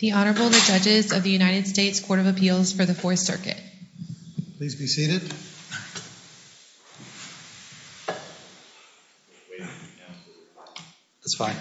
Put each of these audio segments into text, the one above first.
The Honorable, the Judges of the United States Court of Appeals for the Fourth Circuit. Please be seated. That's fine.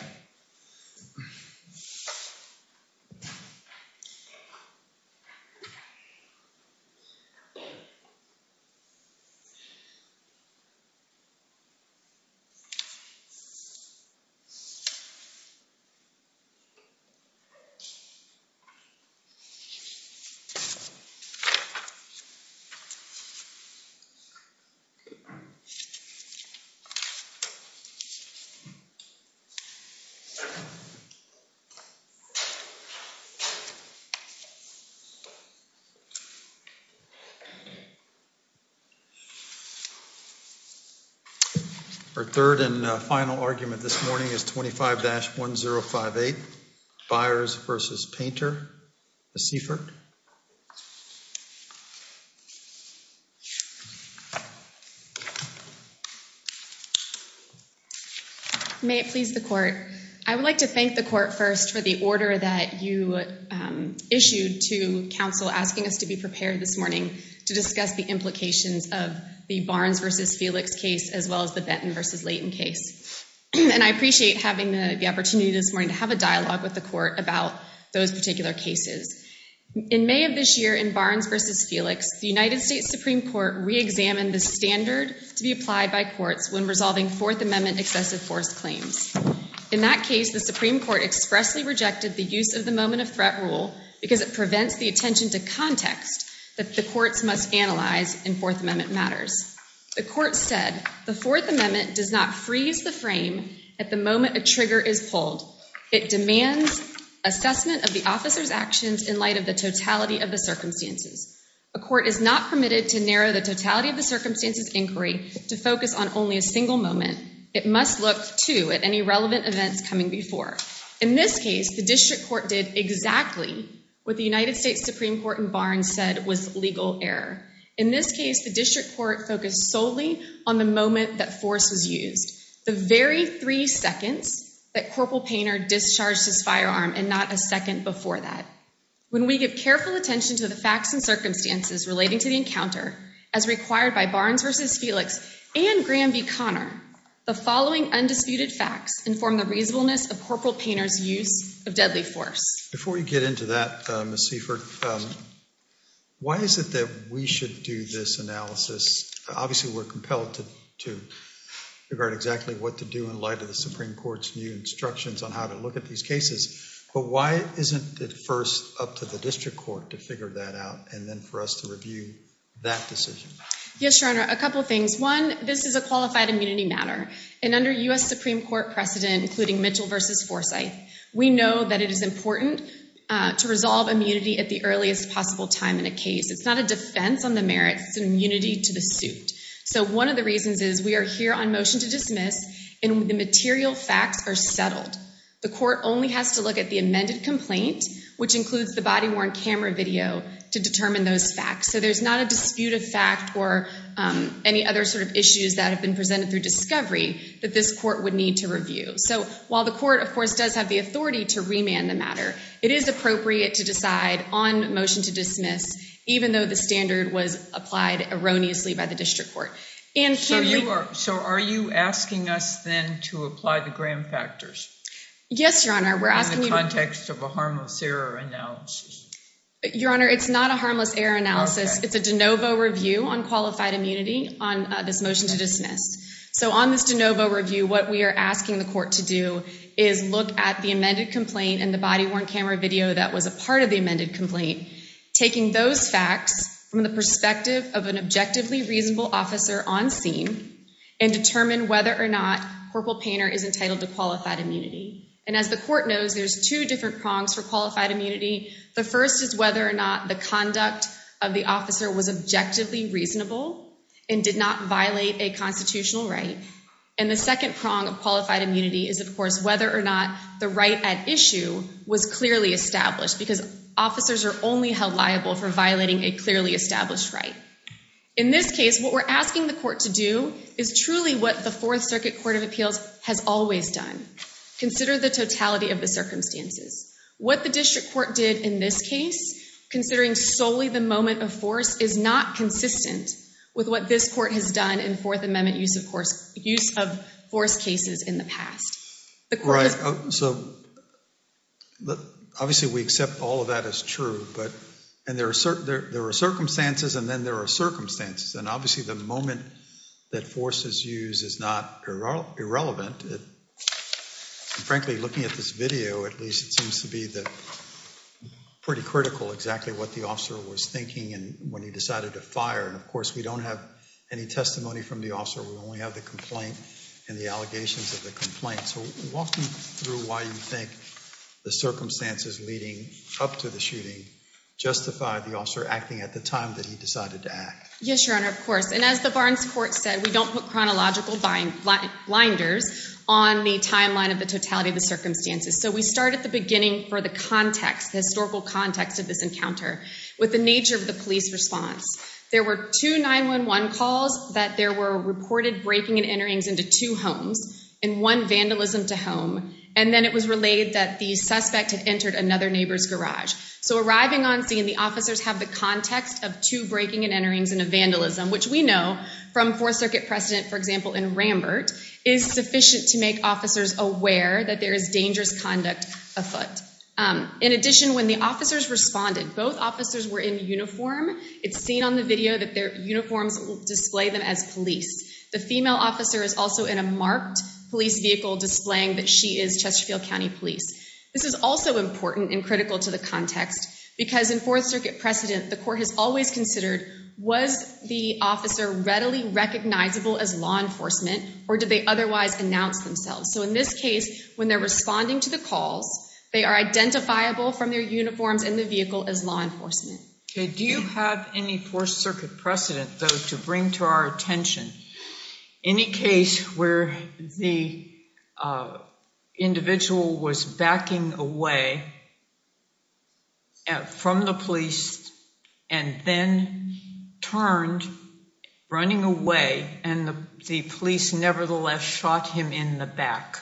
Our third and final argument this morning is 25-1058. Byers v. Painter. Ms. Seifert. May it please the Court. I would like to thank the Court first for the order that you issued to Council asking us to be prepared this morning to discuss the implications of the Barnes v. Felix case as well as the Benton v. Layton case. And I appreciate having the opportunity this morning to have a dialogue with the Court about those particular cases. In May of this year in Barnes v. Felix, the United States Supreme Court reexamined the standard to be applied by courts when resolving Fourth Amendment excessive force claims. In that case, the Supreme Court expressly rejected the use of the moment of threat rule because it prevents the attention to context that the courts must analyze in Fourth Amendment matters. The Court said, the Fourth Amendment does not freeze the frame at the moment a trigger is pulled. It demands assessment of the officer's actions in light of the totality of the circumstances. A court is not permitted to narrow the totality of the circumstances inquiry to focus on only a single moment. It must look, too, at any relevant events coming before. In this case, the district court did exactly what the United States Supreme Court in Barnes said was legal error. In this case, the district court focused solely on the moment that force was used, the very three seconds that Corporal Painter discharged his firearm and not a second before that. When we give careful attention to the facts and circumstances relating to the encounter, as required by Barnes v. Felix and Graham v. Conner, the following undisputed facts inform the reasonableness of Corporal Painter's use of deadly force. Before you get into that, Ms. Seifert, why is it that we should do this analysis? Obviously, we're compelled to regard exactly what to do in light of the Supreme Court's new instructions on how to look at these cases, but why isn't it first up to the district court to figure that out and then for us to review that decision? Yes, Your Honor, a couple of things. One, this is a qualified immunity matter, and under U.S. Supreme Court precedent, including Mitchell v. Forsythe, we know that it is important to resolve immunity at the earliest possible time in a case. It's not a defense on the merits. It's an immunity to the suit. So one of the reasons is we are here on motion to dismiss, and the material facts are settled. The court only has to look at the amended complaint, which includes the body-worn camera video, to determine those facts. So there's not a disputed fact or any other sort of issues that have been presented through discovery that this court would need to review. So while the court, of course, does have the authority to remand the matter, it is appropriate to decide on motion to dismiss, even though the standard was applied erroneously by the district court. So are you asking us then to apply the Graham factors? Yes, Your Honor. In the context of a harmless error analysis. Your Honor, it's not a harmless error analysis. It's a de novo review on qualified immunity on this motion to dismiss. So on this de novo review, what we are asking the court to do is look at the amended complaint and the body-worn camera video that was a part of the amended complaint, taking those facts from the perspective of an objectively reasonable officer on scene, and determine whether or not Corporal Painter is entitled to qualified immunity. And as the court knows, there's two different prongs for qualified immunity. The first is whether or not the conduct of the officer was objectively reasonable and did not violate a constitutional right. And the second prong of qualified immunity is, of course, whether or not the right at issue was clearly established, because officers are only held liable for violating a clearly established right. In this case, what we're asking the court to do is truly what the Fourth Circuit Court of Appeals has always done. Consider the totality of the circumstances. What the district court did in this case, considering solely the moment of force, is not consistent with what this court has done in Fourth Amendment use of force cases in the past. Right, so obviously we accept all of that is true, but there are circumstances and then there are circumstances. And obviously the moment that force is used is not irrelevant. Frankly, looking at this video, at least it seems to be pretty critical exactly what the officer was thinking when he decided to fire. And of course, we don't have any testimony from the officer. We only have the complaint and the allegations of the complaint. So walk me through why you think the circumstances leading up to the shooting justified the officer acting at the time that he decided to act. Yes, Your Honor, of course. And as the Barnes court said, we don't put chronological blinders on the timeline of the totality of the circumstances. So we start at the beginning for the context, the historical context of this encounter with the nature of the police response. There were two 911 calls that there were reported breaking and enterings into two homes and one vandalism to home. And then it was relayed that the suspect had entered another neighbor's garage. So arriving on scene, the officers have the context of two breaking and enterings and a vandalism, which we know from Fourth Circuit precedent, for example, in Rambert, is sufficient to make officers aware that there is dangerous conduct afoot. In addition, when the officers responded, both officers were in uniform. It's seen on the video that their uniforms display them as police. The female officer is also in a marked police vehicle displaying that she is Chesterfield County Police. This is also important and critical to the context because in Fourth Circuit precedent, the court has always considered was the officer readily recognizable as law enforcement or did they otherwise announce themselves? So in this case, when they're responding to the calls, they are identifiable from their uniforms and the vehicle as law enforcement. Do you have any Fourth Circuit precedent, though, to bring to our attention? Any case where the individual was backing away from the police and then turned running away and the police nevertheless shot him in the back.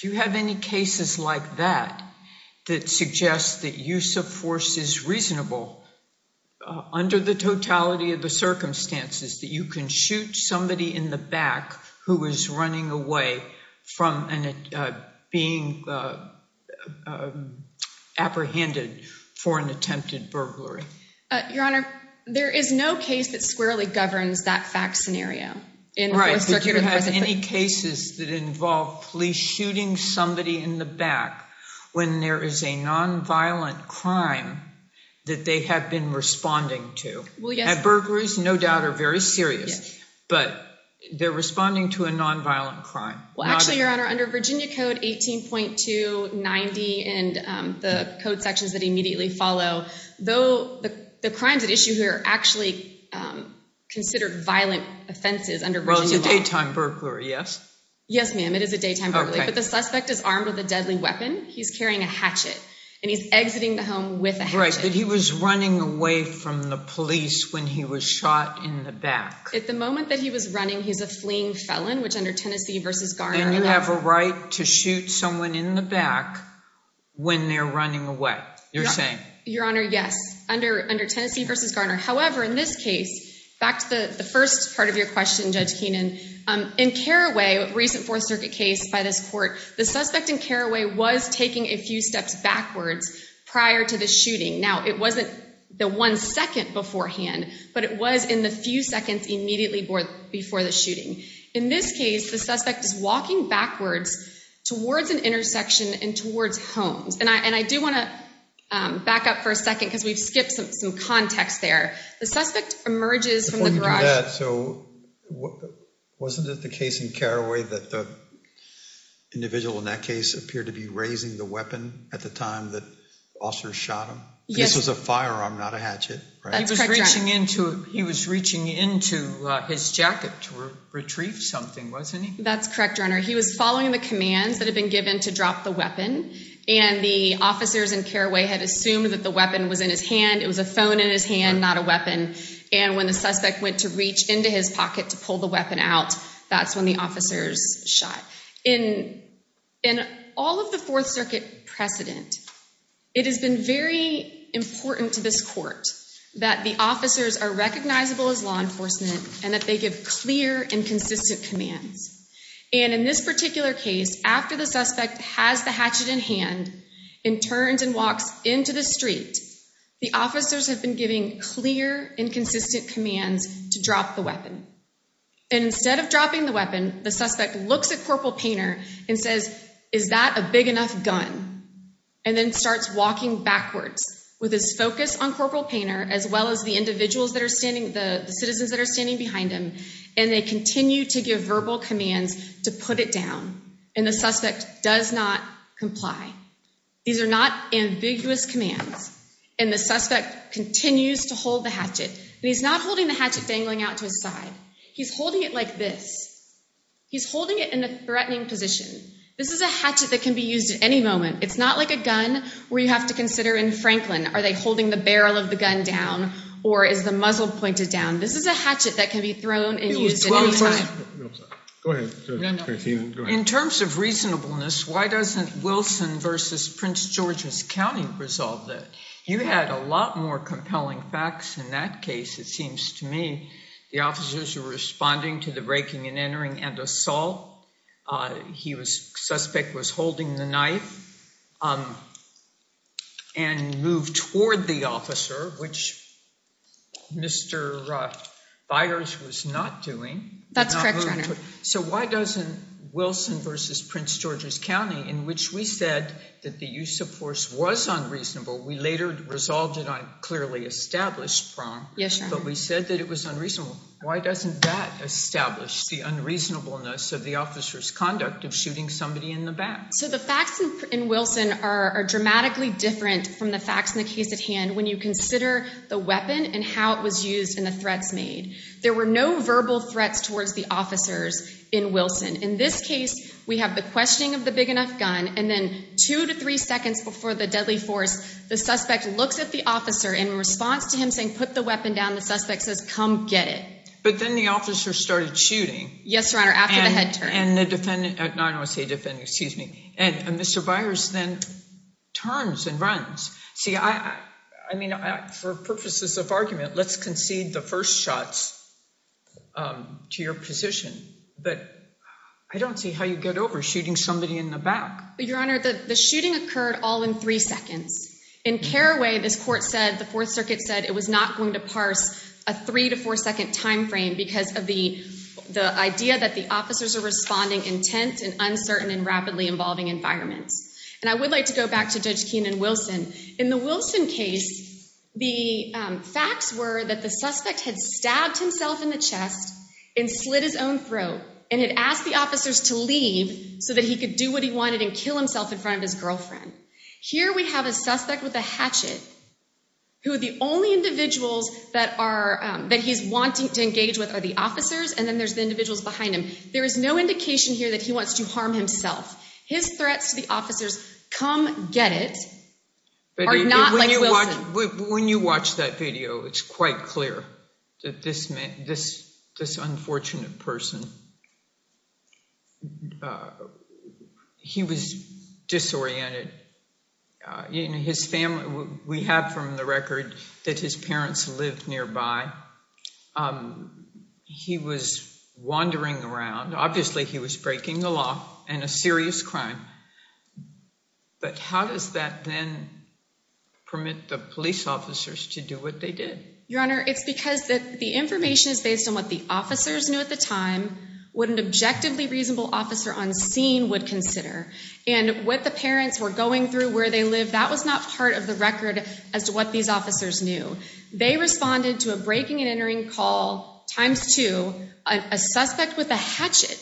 Do you have any cases like that that suggests that use of force is reasonable under the totality of the circumstances, that you can shoot somebody in the back who is running away from being apprehended for an attempted burglary? Your Honor, there is no case that squarely governs that fact scenario. Right, but do you have any cases that involve police shooting somebody in the back when there is a nonviolent crime that they have been responding to? At burglaries, no doubt, are very serious, but they're responding to a nonviolent crime. Well, actually, Your Honor, under Virginia Code 18.290 and the code sections that immediately follow, the crimes at issue here are actually considered violent offenses under Virginia law. Well, it's a daytime burglary, yes? Yes, ma'am, it is a daytime burglary, but the suspect is armed with a deadly weapon. He's carrying a hatchet and he's exiting the home with a hatchet. You're right, but he was running away from the police when he was shot in the back. At the moment that he was running, he's a fleeing felon, which under Tennessee v. Garner. Then you have a right to shoot someone in the back when they're running away, you're saying? Your Honor, yes, under Tennessee v. Garner. However, in this case, back to the first part of your question, Judge Keenan, in Carraway, a recent Fourth Circuit case by this court, the suspect in Carraway was taking a few steps backwards prior to the shooting. Now, it wasn't the one second beforehand, but it was in the few seconds immediately before the shooting. In this case, the suspect is walking backwards towards an intersection and towards Holmes. And I do want to back up for a second because we've skipped some context there. The suspect emerges from the garage. So wasn't it the case in Carraway that the individual in that case appeared to be raising the weapon at the time that officers shot him? This was a firearm, not a hatchet. He was reaching into his jacket to retrieve something, wasn't he? That's correct, Your Honor. He was following the commands that had been given to drop the weapon. And the officers in Carraway had assumed that the weapon was in his hand. It was a phone in his hand, not a weapon. And when the suspect went to reach into his pocket to pull the weapon out, that's when the officers shot. In all of the Fourth Circuit precedent, it has been very important to this court that the officers are recognizable as law enforcement and that they give clear and consistent commands. And in this particular case, after the suspect has the hatchet in hand and turns and walks into the street, the officers have been giving clear and consistent commands to drop the weapon. And instead of dropping the weapon, the suspect looks at Corporal Painter and says, Is that a big enough gun? And then starts walking backwards with his focus on Corporal Painter as well as the citizens that are standing behind him. And they continue to give verbal commands to put it down. And the suspect does not comply. These are not ambiguous commands. And the suspect continues to hold the hatchet. And he's not holding the hatchet dangling out to his side. He's holding it like this. He's holding it in a threatening position. This is a hatchet that can be used at any moment. It's not like a gun where you have to consider in Franklin, are they holding the barrel of the gun down or is the muzzle pointed down? This is a hatchet that can be thrown and used at any time. Go ahead. In terms of reasonableness, why doesn't Wilson versus Prince George's County resolve that? You had a lot more compelling facts in that case. It seems to me the officers are responding to the breaking and entering and assault. He was suspect was holding the knife and moved toward the officer, which Mr. Byers was not doing. That's correct, Your Honor. So why doesn't Wilson versus Prince George's County, in which we said that the use of force was unreasonable, we later resolved it on a clearly established prong. Yes, Your Honor. But we said that it was unreasonable. Why doesn't that establish the unreasonableness of the officer's conduct of shooting somebody in the back? So the facts in Wilson are dramatically different from the facts in the case at hand when you consider the weapon and how it was used and the threats made. There were no verbal threats towards the officers in Wilson. In this case, we have the questioning of the big enough gun, and then two to three seconds before the deadly force, the suspect looks at the officer and in response to him saying, put the weapon down, the suspect says, come get it. But then the officer started shooting. Yes, Your Honor, after the head turn. And the defendant—I don't want to say defendant, excuse me—and Mr. Byers then turns and runs. See, I mean, for purposes of argument, let's concede the first shots to your position. But I don't see how you get over shooting somebody in the back. Your Honor, the shooting occurred all in three seconds. In Carraway, this court said, the Fourth Circuit said it was not going to parse a three to four second time frame because of the idea that the officers are responding in tense and uncertain and rapidly evolving environments. And I would like to go back to Judge Keenan Wilson. In the Wilson case, the facts were that the suspect had stabbed himself in the chest and slid his own throat and had asked the officers to leave so that he could do what he wanted and kill himself in front of his girlfriend. Here we have a suspect with a hatchet who the only individuals that he's wanting to engage with are the officers, and then there's the individuals behind him. There is no indication here that he wants to harm himself. His threats to the officers, come get it, are not like Wilson. When you watch that video, it's quite clear that this unfortunate person, he was disoriented. His family, we have from the record that his parents lived nearby. He was wandering around. Obviously, he was breaking the law and a serious crime. But how does that then permit the police officers to do what they did? Your Honor, it's because the information is based on what the officers knew at the time, what an objectively reasonable officer on scene would consider. And what the parents were going through, where they lived, that was not part of the record as to what these officers knew. They responded to a breaking and entering call times two, a suspect with a hatchet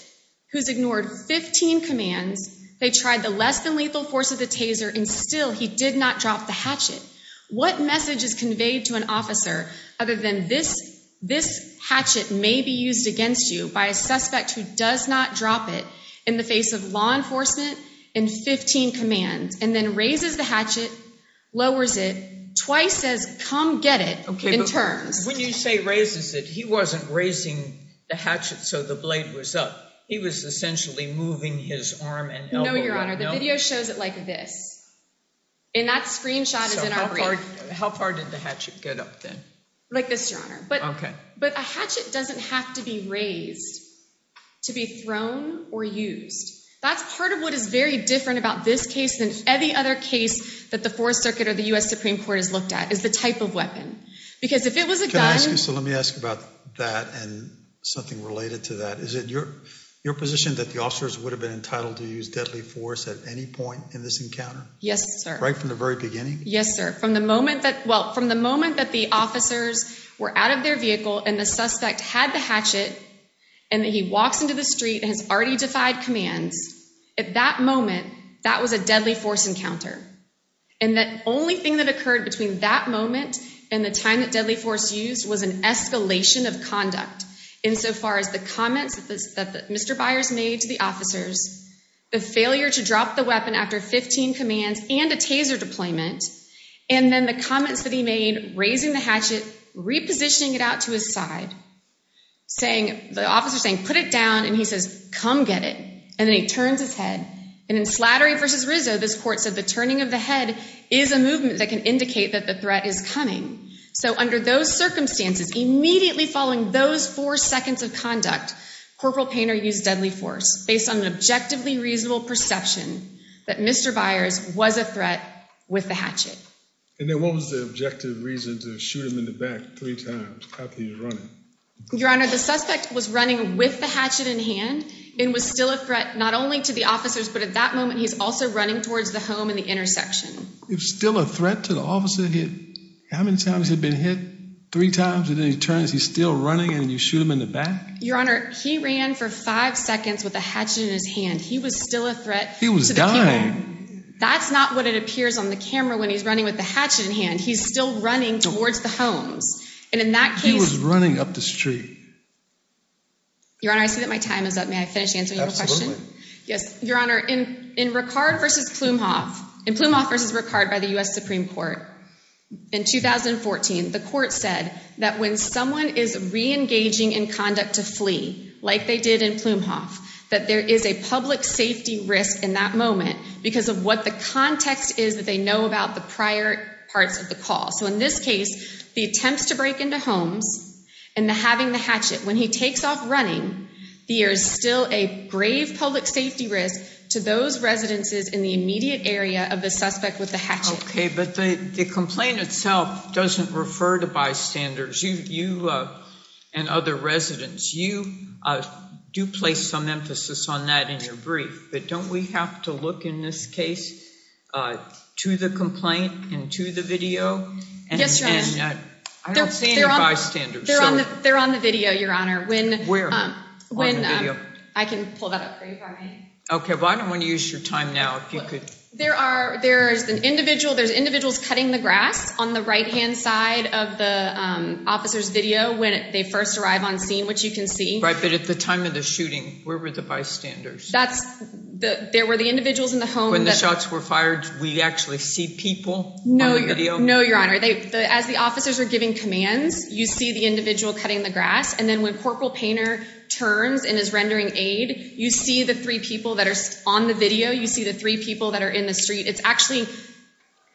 who's ignored 15 commands. They tried the less than lethal force of the taser, and still he did not drop the hatchet. What message is conveyed to an officer other than this hatchet may be used against you by a suspect who does not drop it in the face of law enforcement and 15 commands, and then raises the hatchet, lowers it, twice says, come get it, in turns. When you say raises it, he wasn't raising the hatchet so the blade was up. He was essentially moving his arm and elbow. No, Your Honor, the video shows it like this. And that screenshot is in our brief. How far did the hatchet get up then? Like this, Your Honor. OK. But a hatchet doesn't have to be raised to be thrown or used. That's part of what is very different about this case than any other case that the Fourth Circuit or the U.S. Supreme Court has looked at is the type of weapon. Because if it was a gun. So let me ask about that and something related to that. Is it your position that the officers would have been entitled to use deadly force at any point in this encounter? Yes, sir. Right from the very beginning? Yes, sir. Well, from the moment that the officers were out of their vehicle and the suspect had the hatchet and he walks into the street and has already defied commands, at that moment, that was a deadly force encounter. And the only thing that occurred between that moment and the time that deadly force used was an escalation of conduct. Insofar as the comments that Mr. Byers made to the officers, the failure to drop the weapon after 15 commands and a taser deployment, and then the comments that he made raising the hatchet, repositioning it out to his side. The officer saying, put it down. And he says, come get it. And then he turns his head. And in Slattery v. Rizzo, this court said the turning of the head is a movement that can indicate that the threat is coming. So under those circumstances, immediately following those four seconds of conduct, Corporal Painter used deadly force based on an objectively reasonable perception that Mr. Byers was a threat with the hatchet. And then what was the objective reason to shoot him in the back three times after he was running? Your Honor, the suspect was running with the hatchet in hand and was still a threat not only to the officers, but at that moment, he's also running towards the home and the intersection. He was still a threat to the officer? How many times has he been hit? Three times? And then he turns, he's still running, and you shoot him in the back? Your Honor, he ran for five seconds with a hatchet in his hand. He was still a threat. He was dying. That's not what it appears on the camera when he's running with the hatchet in hand. He's still running towards the homes. And in that case— He was running up the street. Your Honor, I see that my time is up. May I finish answering your question? Absolutely. Yes. Your Honor, in Plumhoff v. Ricard by the U.S. Supreme Court in 2014, the court said that when someone is reengaging in conduct to flee, like they did in Plumhoff, that there is a public safety risk in that moment because of what the context is that they know about the prior parts of the call. So in this case, the attempts to break into homes and having the hatchet, when he takes off running, there is still a grave public safety risk to those residences in the immediate area of the suspect with the hatchet. Okay, but the complaint itself doesn't refer to bystanders. You and other residents, you do place some emphasis on that in your brief. But don't we have to look in this case to the complaint and to the video? Yes, Your Honor. I don't see any bystanders. They're on the video, Your Honor. Where? On the video. I can pull that up for you if I may. Okay, but I don't want to use your time now. There's individuals cutting the grass on the right-hand side of the officer's video when they first arrive on scene, which you can see. Right, but at the time of the shooting, where were the bystanders? There were the individuals in the home. When the shots were fired, we actually see people on the video? No, Your Honor. As the officers are giving commands, you see the individual cutting the grass. And then when Corporal Painter turns and is rendering aid, you see the three people that are on the video. You see the three people that are in the street. It's actually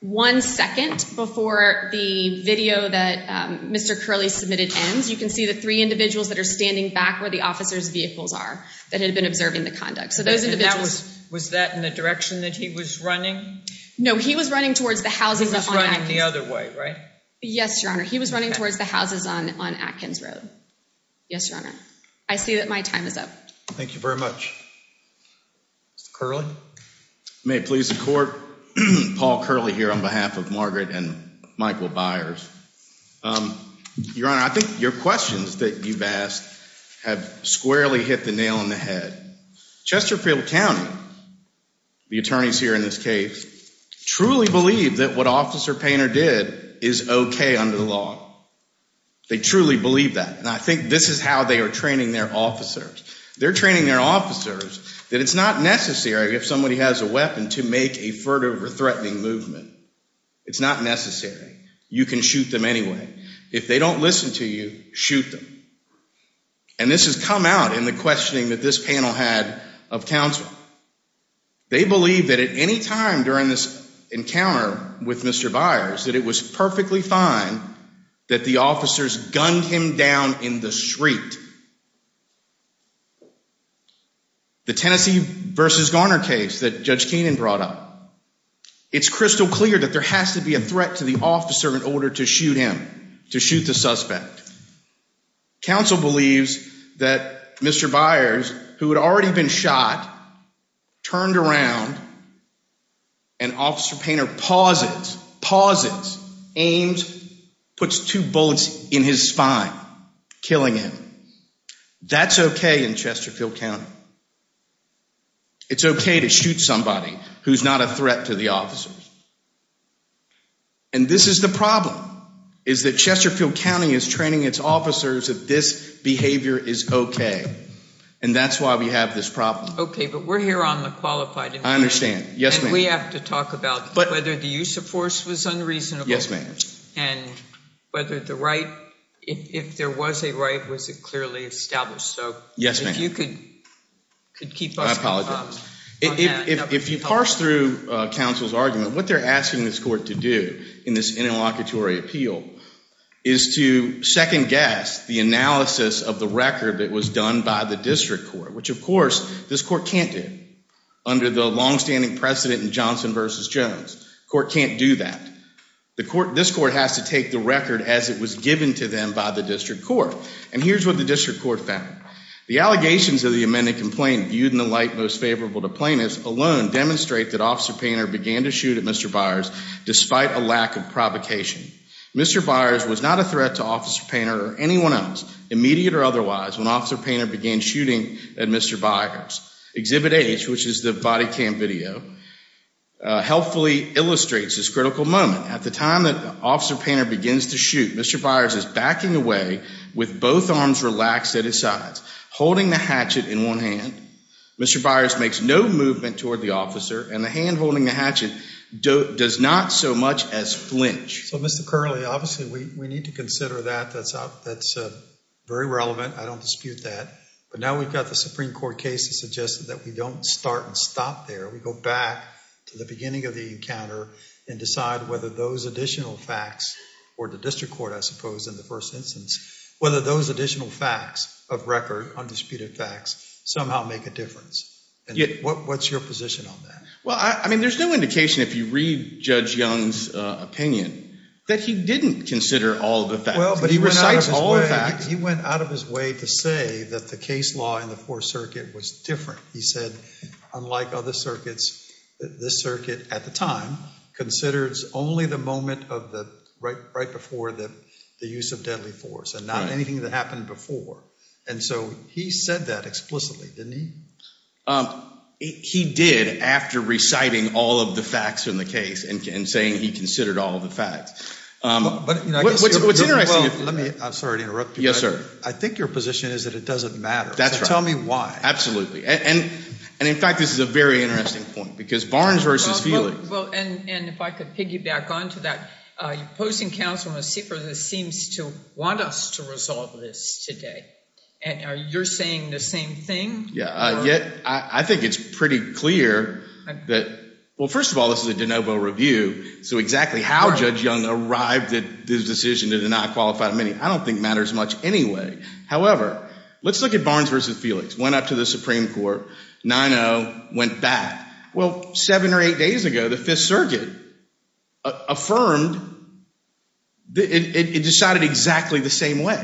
one second before the video that Mr. Curley submitted ends. You can see the three individuals that are standing back where the officers' vehicles are that had been observing the conduct. So those individuals— And that was—was that in the direction that he was running? No, he was running towards the houses on Atkins— He was running the other way, right? Yes, Your Honor. He was running towards the houses on Atkins Road. Yes, Your Honor. I see that my time is up. Thank you very much. Mr. Curley? May it please the Court? Paul Curley here on behalf of Margaret and Michael Byers. Your Honor, I think your questions that you've asked have squarely hit the nail on the head. Chesterfield County, the attorneys here in this case, truly believe that what Officer Painter did is okay under the law. They truly believe that. And I think this is how they are training their officers. They're training their officers that it's not necessary if somebody has a weapon to make a furtive or threatening movement. It's not necessary. You can shoot them anyway. If they don't listen to you, shoot them. And this has come out in the questioning that this panel had of counsel. They believe that at any time during this encounter with Mr. Byers that it was perfectly fine that the officers gunned him down in the street. The Tennessee v. Garner case that Judge Keenan brought up. It's crystal clear that there has to be a threat to the officer in order to shoot him, to shoot the suspect. Counsel believes that Mr. Byers, who had already been shot, turned around and Officer Painter pauses, pauses, aims, puts two bullets in his spine, killing him. That's okay in Chesterfield County. It's okay to shoot somebody who's not a threat to the officers. And this is the problem, is that Chesterfield County is training its officers that this behavior is okay. And that's why we have this problem. Okay, but we're here on the qualified investigation. I understand. Yes, ma'am. And we have to talk about whether the use of force was unreasonable. Yes, ma'am. And whether the right, if there was a right, was it clearly established? Yes, ma'am. So if you could keep us informed. If you parse through counsel's argument, what they're asking this court to do in this interlocutory appeal is to second guess the analysis of the record that was done by the district court. Which, of course, this court can't do under the longstanding precedent in Johnson v. Jones. The court can't do that. And this court has to take the record as it was given to them by the district court. And here's what the district court found. The allegations of the amended complaint viewed in the light most favorable to plaintiffs alone demonstrate that Officer Painter began to shoot at Mr. Byers despite a lack of provocation. Mr. Byers was not a threat to Officer Painter or anyone else, immediate or otherwise, when Officer Painter began shooting at Mr. Byers. Exhibit H, which is the body cam video, helpfully illustrates this critical moment. At the time that Officer Painter begins to shoot, Mr. Byers is backing away with both arms relaxed at his sides, holding the hatchet in one hand. Mr. Byers makes no movement toward the officer, and the hand holding the hatchet does not so much as flinch. So, Mr. Curley, obviously we need to consider that. That's very relevant. I don't dispute that. But now we've got the Supreme Court case that suggested that we don't start and stop there. We go back to the beginning of the encounter and decide whether those additional facts, or the district court, I suppose, in the first instance, whether those additional facts of record, undisputed facts, somehow make a difference. And what's your position on that? Well, I mean, there's no indication, if you read Judge Young's opinion, that he didn't consider all the facts. Well, but he recites all the facts. He went out of his way to say that the case law in the Fourth Circuit was different. He said, unlike other circuits, this circuit, at the time, considers only the moment right before the use of deadly force, and not anything that happened before. And so he said that explicitly, didn't he? He did after reciting all of the facts in the case and saying he considered all the facts. I'm sorry to interrupt you. Yes, sir. I think your position is that it doesn't matter. So tell me why. And, in fact, this is a very interesting point, because Barnes versus Healy. Well, and if I could piggyback onto that, your opposing counsel, Ms. Siefer, seems to want us to resolve this today. And are you saying the same thing? Yeah. Yet I think it's pretty clear that, well, first of all, this is a de novo review. So exactly how Judge Young arrived at this decision to deny qualified amenity I don't think matters much anyway. However, let's look at Barnes versus Felix. Went up to the Supreme Court. 9-0. Went back. Well, seven or eight days ago, the Fifth Circuit affirmed it decided exactly the same way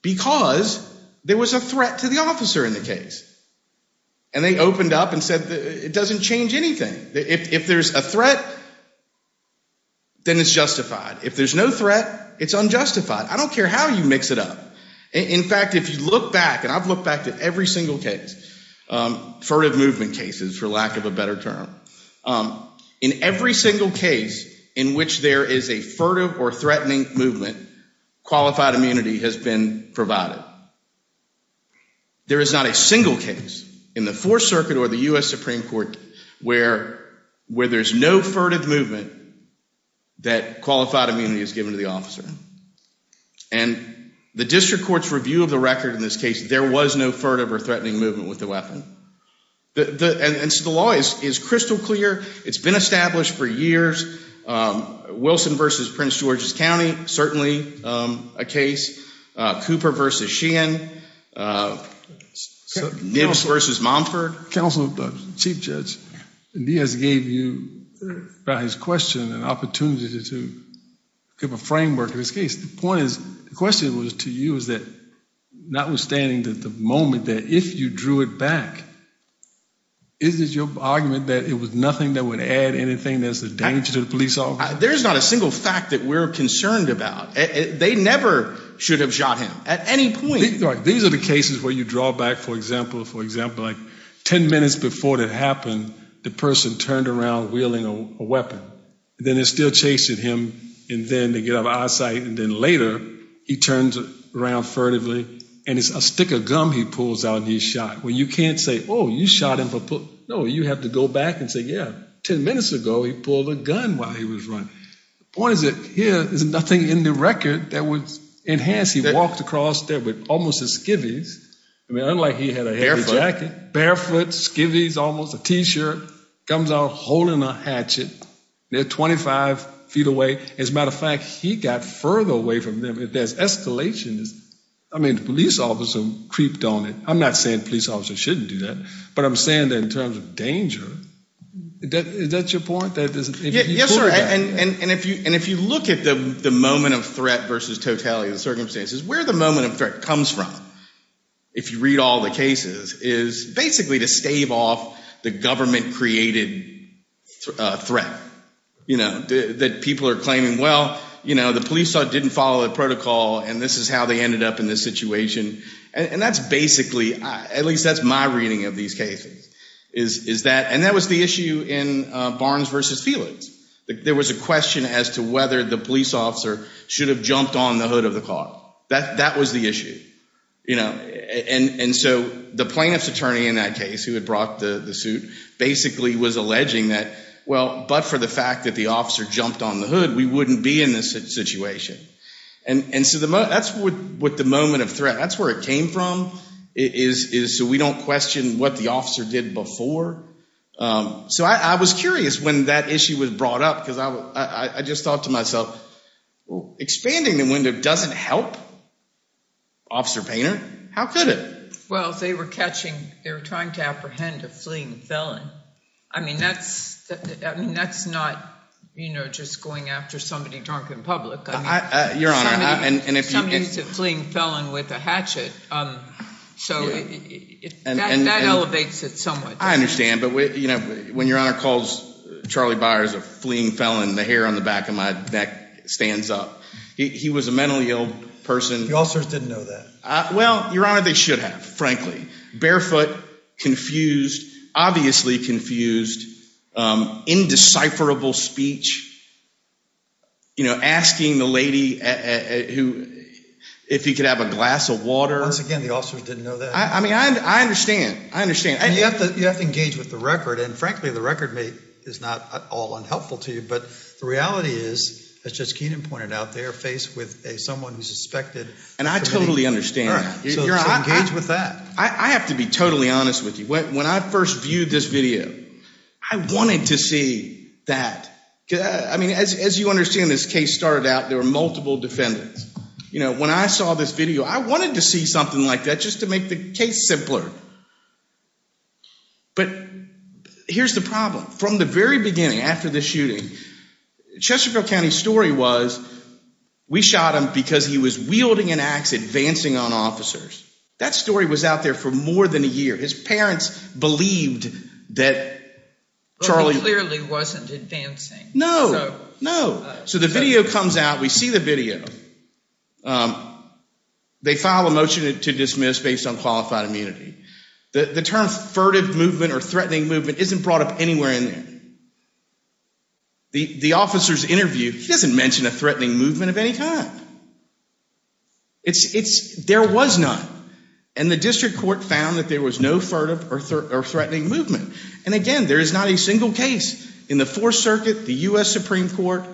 because there was a threat to the officer in the case. And they opened up and said it doesn't change anything. If there's a threat, then it's justified. If there's no threat, it's unjustified. I don't care how you mix it up. In fact, if you look back, and I've looked back at every single case, furtive movement cases, for lack of a better term. In every single case in which there is a furtive or threatening movement, qualified immunity has been provided. There is not a single case in the Fourth Circuit or the U.S. Supreme Court where there's no furtive movement that qualified immunity is given to the officer. And the district court's review of the record in this case, there was no furtive or threatening movement with the weapon. And so the law is crystal clear. It's been established for years. Wilson versus Prince George's County, certainly a case. Cooper versus Sheehan. Nibs versus Momford. Chief Judge, Diaz gave you his question and opportunity to give a framework in this case. The point is, the question was to you is that notwithstanding the moment that if you drew it back, is it your argument that it was nothing that would add anything that's a danger to the police officer? There's not a single fact that we're concerned about. They never should have shot him at any point. These are the cases where you draw back, for example, like 10 minutes before it happened, the person turned around wielding a weapon. And then they're still chasing him. And then they get out of our sight. And then later, he turns around furtively, and it's a stick of gum he pulls out and he's shot. Well, you can't say, oh, you shot him. No, you have to go back and say, yeah, 10 minutes ago, he pulled a gun while he was running. The point is that here, there's nothing in the record that would enhance. He walked across there with almost his skivvies. I mean, unlike he had a jacket. Barefoot. Barefoot, skivvies almost, a T-shirt. Comes out holding a hatchet. They're 25 feet away. As a matter of fact, he got further away from them. There's escalations. I mean, the police officer creeped on it. I'm not saying police officers shouldn't do that, but I'm saying that in terms of danger, is that your point? Yes, sir. And if you look at the moment of threat versus totality of the circumstances, where the moment of threat comes from, if you read all the cases, is basically to stave off the government-created threat, you know, that people are claiming, well, you know, the police didn't follow the protocol, and this is how they ended up in this situation. And that's basically, at least that's my reading of these cases, is that, and that was the issue in Barnes v. Felix. There was a question as to whether the police officer should have jumped on the hood of the car. That was the issue, you know. And so the plaintiff's attorney in that case who had brought the suit basically was alleging that, well, but for the fact that the officer jumped on the hood, we wouldn't be in this situation. And so that's what the moment of threat, that's where it came from, is so we don't question what the officer did before. So I was curious when that issue was brought up, because I just thought to myself, expanding the window doesn't help Officer Painter. How could it? Well, they were catching, they were trying to apprehend a fleeing felon. I mean, that's not, you know, just going after somebody drunk in public. Your Honor, and if you can. It's a fleeing felon with a hatchet, so that elevates it somewhat. I understand, but, you know, when Your Honor calls Charlie Byers a fleeing felon, the hair on the back of my neck stands up. He was a mentally ill person. The officers didn't know that. Well, Your Honor, they should have, frankly. Barefoot, confused, obviously confused, indecipherable speech, you know, asking the lady if he could have a glass of water. Once again, the officers didn't know that. I mean, I understand. I understand. You have to engage with the record, and frankly, the record is not at all unhelpful to you, but the reality is, as Judge Keenan pointed out, they are faced with someone who's suspected. And I totally understand. So engage with that. I have to be totally honest with you. When I first viewed this video, I wanted to see that. I mean, as you understand, this case started out, there were multiple defendants. You know, when I saw this video, I wanted to see something like that, just to make the case simpler. But here's the problem. From the very beginning, after the shooting, Chesterfield County's story was we shot him because he was wielding an axe, advancing on officers. That story was out there for more than a year. His parents believed that Charlie. But he clearly wasn't advancing. No. No. So the video comes out. We see the video. They file a motion to dismiss based on qualified immunity. The term furtive movement or threatening movement isn't brought up anywhere in there. The officer's interview, he doesn't mention a threatening movement of any kind. There was none. And the district court found that there was no furtive or threatening movement. And, again, there is not a single case in the Fourth Circuit, the U.S. Supreme Court,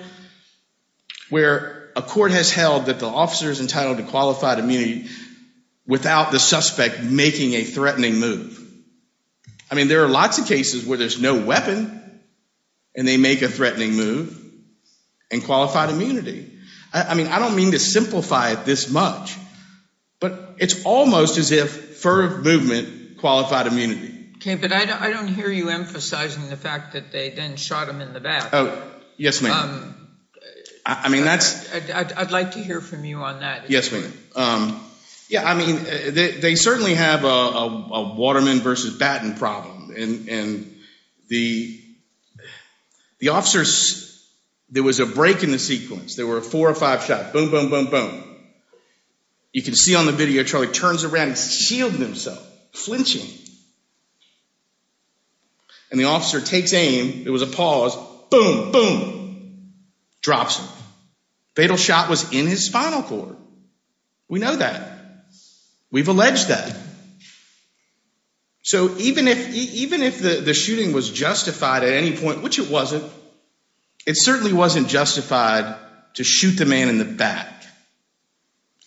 where a court has held that the officer is entitled to qualified immunity without the suspect making a threatening move. I mean, there are lots of cases where there's no weapon, and they make a threatening move and qualified immunity. I mean, I don't mean to simplify it this much, but it's almost as if furtive movement qualified immunity. Okay. But I don't hear you emphasizing the fact that they then shot him in the back. Oh, yes, ma'am. I mean, that's. I'd like to hear from you on that. Yes, ma'am. Yeah, I mean, they certainly have a waterman versus baton problem. And the officers, there was a break in the sequence. There were four or five shots. Boom, boom, boom, boom. You can see on the video, Charlie turns around and shields himself, flinching. And the officer takes aim. There was a pause. Boom, boom, drops him. Fatal shot was in his spinal cord. We know that. We've alleged that. So even if the shooting was justified at any point, which it wasn't, it certainly wasn't justified to shoot the man in the back.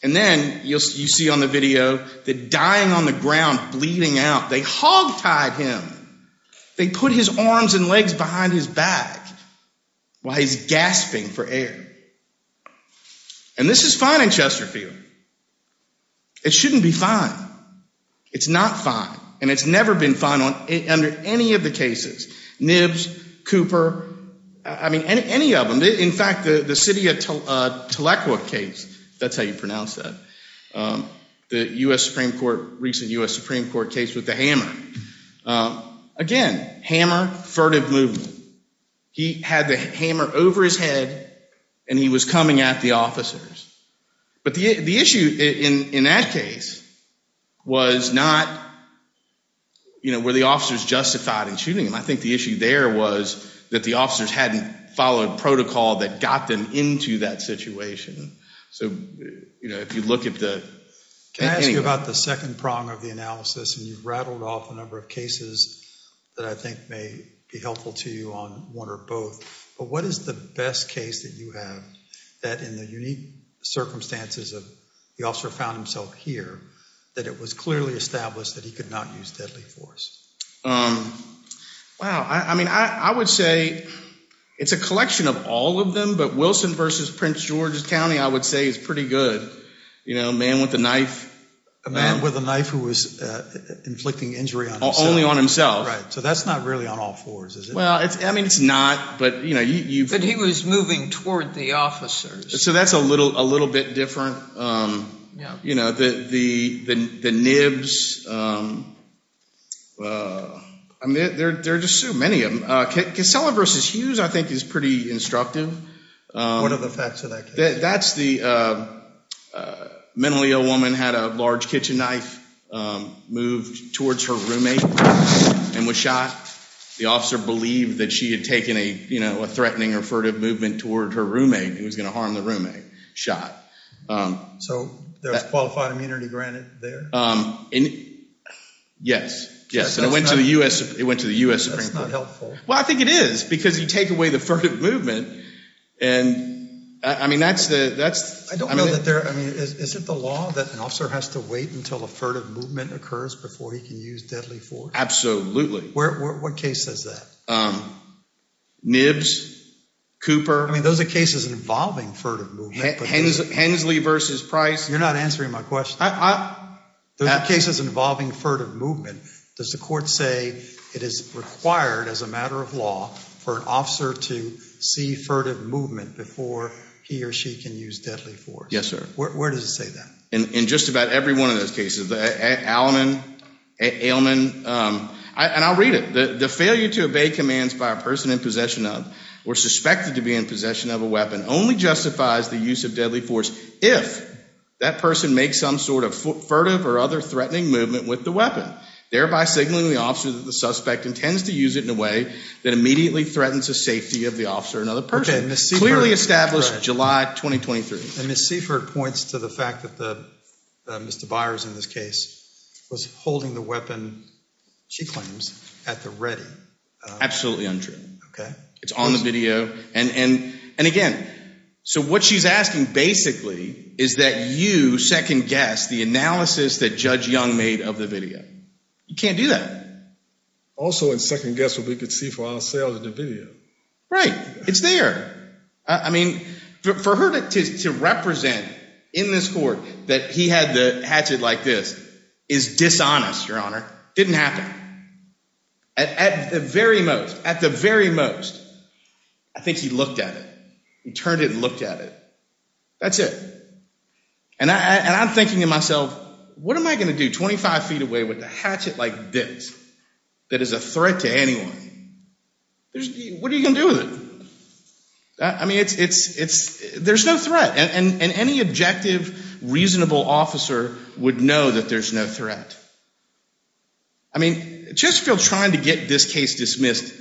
And then you see on the video the dying on the ground, bleeding out. They hogtied him. They put his arms and legs behind his back while he's gasping for air. And this is fine in Chesterfield. It shouldn't be fine. It's not fine. And it's never been fine under any of the cases. Nibs, Cooper, I mean, any of them. In fact, the city of Tahlequah case, if that's how you pronounce that, the U.S. Supreme Court, recent U.S. Supreme Court case with the hammer. Again, hammer, furtive movement. He had the hammer over his head, and he was coming at the officers. But the issue in that case was not, you know, were the officers justified in shooting him. I think the issue there was that the officers hadn't followed protocol that got them into that situation. So, you know, if you look at the anyway. Can I ask you about the second prong of the analysis? And you've rattled off a number of cases that I think may be helpful to you on one or both. But what is the best case that you have that in the unique circumstances of the officer found himself here that it was clearly established that he could not use deadly force? Wow. I mean, I would say it's a collection of all of them. But Wilson versus Prince George's County, I would say, is pretty good. You know, a man with a knife. A man with a knife who was inflicting injury on himself. Only on himself. Right. So that's not really on all fours, is it? Well, I mean, it's not, but, you know. But he was moving toward the officers. So that's a little bit different. Yeah. You know, the nibs. I mean, there are just so many of them. Casella versus Hughes, I think, is pretty instructive. What are the facts of that case? That's the mentally ill woman had a large kitchen knife, moved towards her roommate, and was shot. The officer believed that she had taken a, you know, a threatening or furtive movement toward her roommate who was going to harm the roommate. Shot. So there was qualified immunity granted there? Yes. It went to the U.S. Supreme Court. That's not helpful. Well, I think it is, because you take away the furtive movement. And, I mean, that's the. I don't know that there. I mean, is it the law that an officer has to wait until a furtive movement occurs before he can use deadly force? Absolutely. What case says that? Nibs, Cooper. I mean, those are cases involving furtive movement. Hensley versus Price. You're not answering my question. Those are cases involving furtive movement. Does the court say it is required, as a matter of law, for an officer to see furtive movement before he or she can use deadly force? Yes, sir. Where does it say that? In just about every one of those cases. And I'll read it. The failure to obey commands by a person in possession of, or suspected to be in possession of a weapon, only justifies the use of deadly force if that person makes some sort of furtive or other threatening movement with the weapon, thereby signaling the officer that the suspect intends to use it in a way that immediately threatens the safety of the officer or another person. Clearly established July 2023. And Ms. Seifert points to the fact that Mr. Byers, in this case, was holding the weapon, she claims, at the ready. Absolutely untrue. Okay. It's on the video. And, again, so what she's asking, basically, is that you second-guess the analysis that Judge Young made of the video. You can't do that. Also, and second-guess what we could see for ourselves in the video. Right. It's there. I mean, for her to represent in this court that he had the hatchet like this is dishonest, Your Honor. Didn't happen. At the very most, at the very most, I think he looked at it. He turned it and looked at it. That's it. And I'm thinking to myself, what am I going to do 25 feet away with a hatchet like this that is a threat to anyone? What are you going to do with it? I mean, there's no threat. And any objective, reasonable officer would know that there's no threat. I mean, Chesterfield is trying to get this case dismissed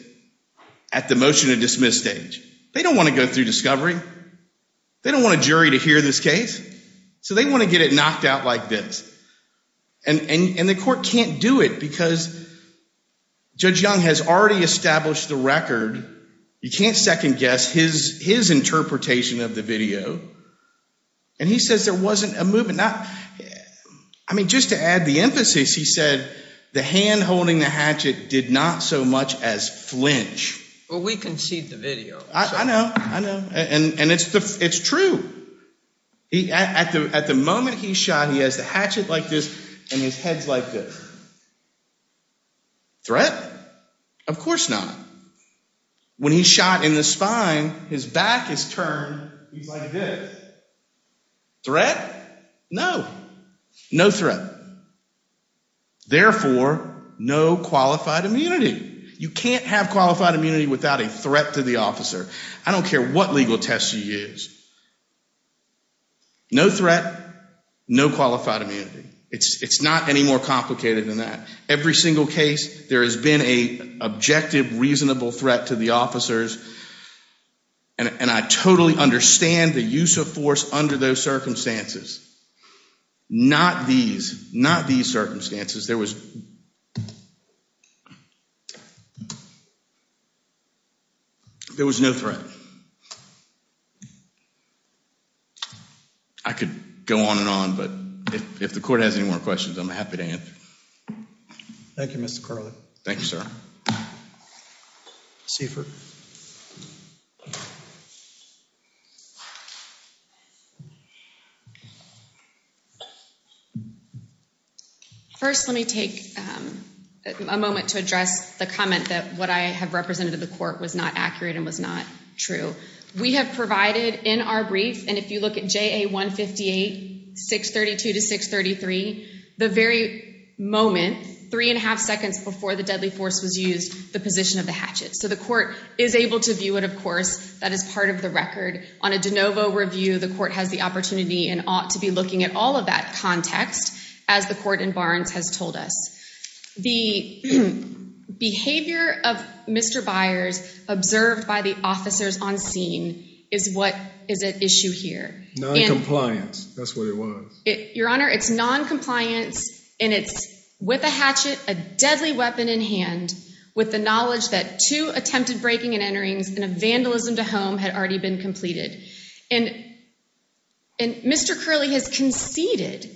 at the motion-to-dismiss stage. They don't want to go through discovery. They don't want a jury to hear this case. So they want to get it knocked out like this. And the court can't do it because Judge Young has already established the record. You can't second-guess his interpretation of the video. And he says there wasn't a movement. I mean, just to add the emphasis, he said the hand holding the hatchet did not so much as flinch. Well, we conceded the video. I know. I know. And it's true. At the moment he's shot, he has the hatchet like this and his head's like this. Of course not. When he's shot in the spine, his back is turned. He's like this. No. No threat. Therefore, no qualified immunity. You can't have qualified immunity without a threat to the officer. I don't care what legal test you use. No threat, no qualified immunity. It's not any more complicated than that. Every single case, there has been an objective, reasonable threat to the officers. And I totally understand the use of force under those circumstances. Not these. Not these circumstances. There was no threat. I could go on and on. But if the court has any more questions, I'm happy to answer. Thank you, Mr. Carley. Thank you, sir. C for. First, let me take a moment to address the comment that what I have represented to the court was not accurate and was not true. We have provided in our brief, and if you look at JA 158, 632 to 633, the very moment, three and a half seconds before the deadly force was used, the position of the hatchet. So the court is able to view it, of course. That is part of the record. On a de novo review, the court has the opportunity and ought to be looking at all of that context, as the court in Barnes has told us. The behavior of Mr. Byers observed by the officers on scene is what is at issue here. Noncompliance. That's what it was. Your Honor, it's noncompliance. And it's with a hatchet, a deadly weapon in hand, with the knowledge that two attempted breaking and enterings and a vandalism to home had already been completed. And Mr. Carley has conceded,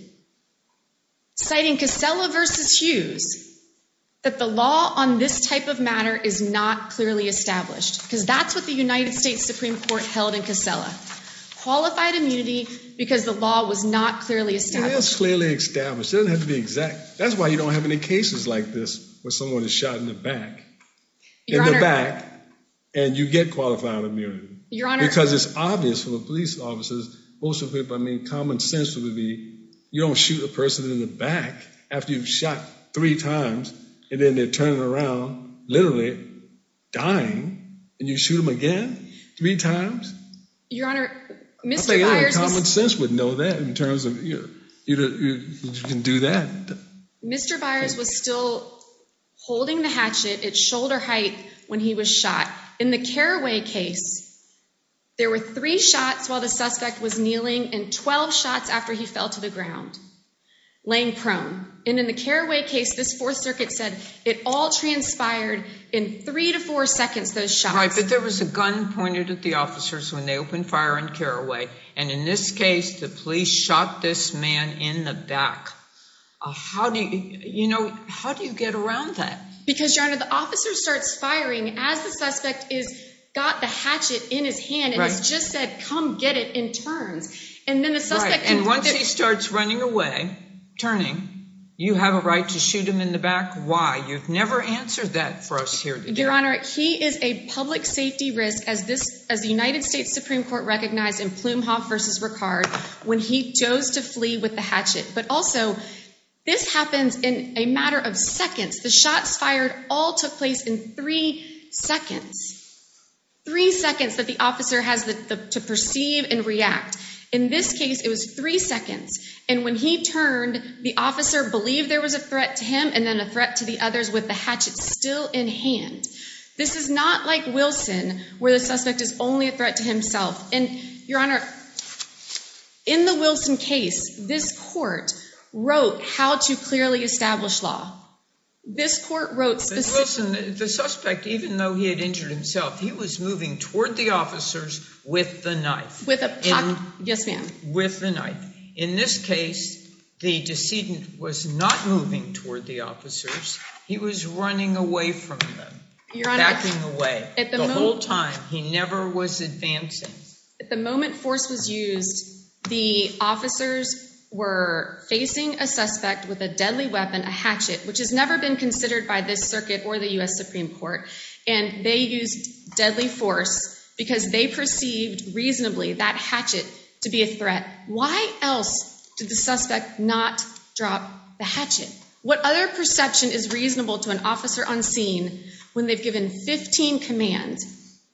citing Casella versus Hughes, that the law on this type of matter is not clearly established, because that's what the United States Supreme Court held in Casella. Qualified immunity because the law was not clearly established. It is clearly established. It doesn't have to be exact. That's why you don't have any cases like this where someone is shot in the back. In the back. And you get qualified immunity. Your Honor. Because it's obvious for the police officers, most of the people, I mean, common sense would be you don't shoot a person in the back after you've shot three times and then they're turning around, literally dying, and you shoot them again three times. Your Honor, Mr. Byers. Common sense would know that in terms of you can do that. Mr. Byers was still holding the hatchet at shoulder height when he was shot. In the Carraway case, there were three shots while the suspect was kneeling and 12 shots after he fell to the ground, laying prone. And in the Carraway case, this Fourth Circuit said it all transpired in three to four seconds, those shots. But there was a gun pointed at the officers when they opened fire on Carraway. And in this case, the police shot this man in the back. How do you get around that? Because, Your Honor, the officer starts firing as the suspect has got the hatchet in his hand and has just said, come get it, and turns. And then the suspect can go get it. And once he starts running away, turning, you have a right to shoot him in the back. Why? You've never answered that for us here today. Your Honor, he is a public safety risk, as the United States Supreme Court recognized in Plumhoff v. Ricard, when he chose to flee with the hatchet. But also, this happens in a matter of seconds. The shots fired all took place in three seconds. Three seconds that the officer has to perceive and react. In this case, it was three seconds. And when he turned, the officer believed there was a threat to him and then a threat to the others with the hatchet still in hand. This is not like Wilson, where the suspect is only a threat to himself. And, Your Honor, in the Wilson case, this court wrote how to clearly establish law. This court wrote specifically... But, Wilson, the suspect, even though he had injured himself, he was moving toward the officers with the knife. With a puck, yes, ma'am. With the knife. In this case, the decedent was not moving toward the officers. He was running away from them. Backing away. The whole time. He never was advancing. At the moment force was used, the officers were facing a suspect with a deadly weapon, a hatchet, which has never been considered by this circuit or the U.S. Supreme Court. And they used deadly force because they perceived reasonably that hatchet to be a threat. Why else did the suspect not drop the hatchet? What other perception is reasonable to an officer unseen when they've given 15 commands?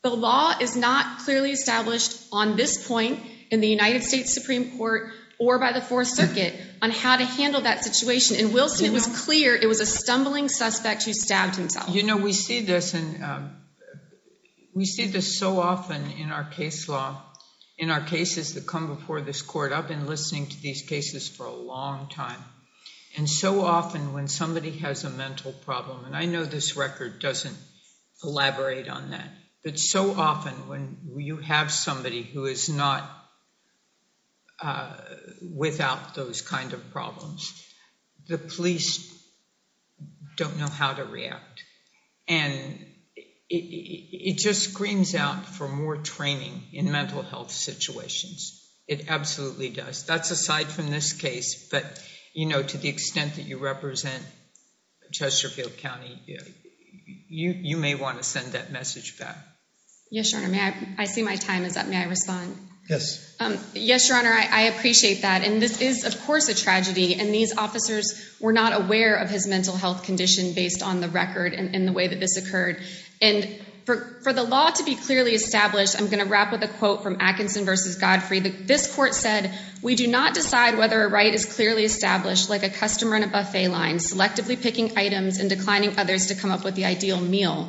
The law is not clearly established on this point in the United States Supreme Court or by the Fourth Circuit on how to handle that situation. In Wilson, it was clear it was a stumbling suspect who stabbed himself. You know, we see this so often in our case law, in our cases that come before this court. I've been listening to these cases for a long time. And so often when somebody has a mental problem, and I know this record doesn't elaborate on that, but so often when you have somebody who is not without those kind of problems, the police don't know how to react. And it just screams out for more training in mental health situations. It absolutely does. That's aside from this case. But, you know, to the extent that you represent Chesterfield County, you may want to send that message back. Yes, Your Honor. I see my time is up. May I respond? Yes. Yes, Your Honor. I appreciate that. And this is, of course, a tragedy. And these officers were not aware of his mental health condition based on the record and the way that this occurred. And for the law to be clearly established, I'm going to wrap with a quote from Atkinson v. Godfrey. This court said, We do not decide whether a right is clearly established like a customer in a buffet line, selectively picking items and declining others to come up with the ideal meal.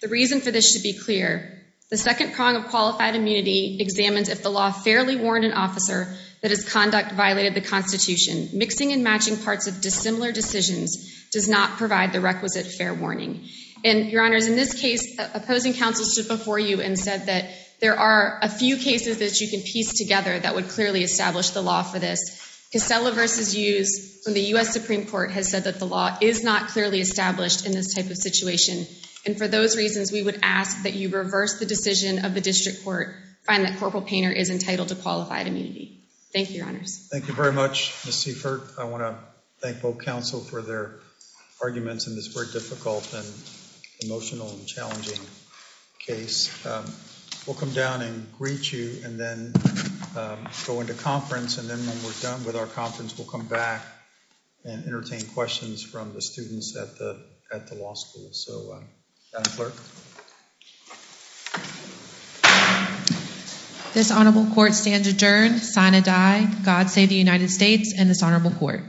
The reason for this should be clear. The second prong of qualified immunity examines if the law fairly warned an officer that his conduct violated the Constitution. Mixing and matching parts of dissimilar decisions does not provide the requisite fair warning. And, Your Honors, in this case, opposing counsel stood before you and said that there are a few cases that you can piece together that would clearly establish the law for this. Casella v. Hughes from the U.S. Supreme Court has said that the law is not clearly established in this type of situation. And for those reasons, we would ask that you reverse the decision of the district court and find that Corporal Painter is entitled to qualified immunity. Thank you, Your Honors. Thank you very much, Ms. Seifert. I want to thank both counsel for their arguments in this very difficult and emotional and challenging case. We'll come down and greet you and then go into conference. And then when we're done with our conference, we'll come back and entertain questions from the students at the law school. So, Madam Clerk. This Honorable Court stands adjourned. Signed, God Save the United States and this Honorable Court.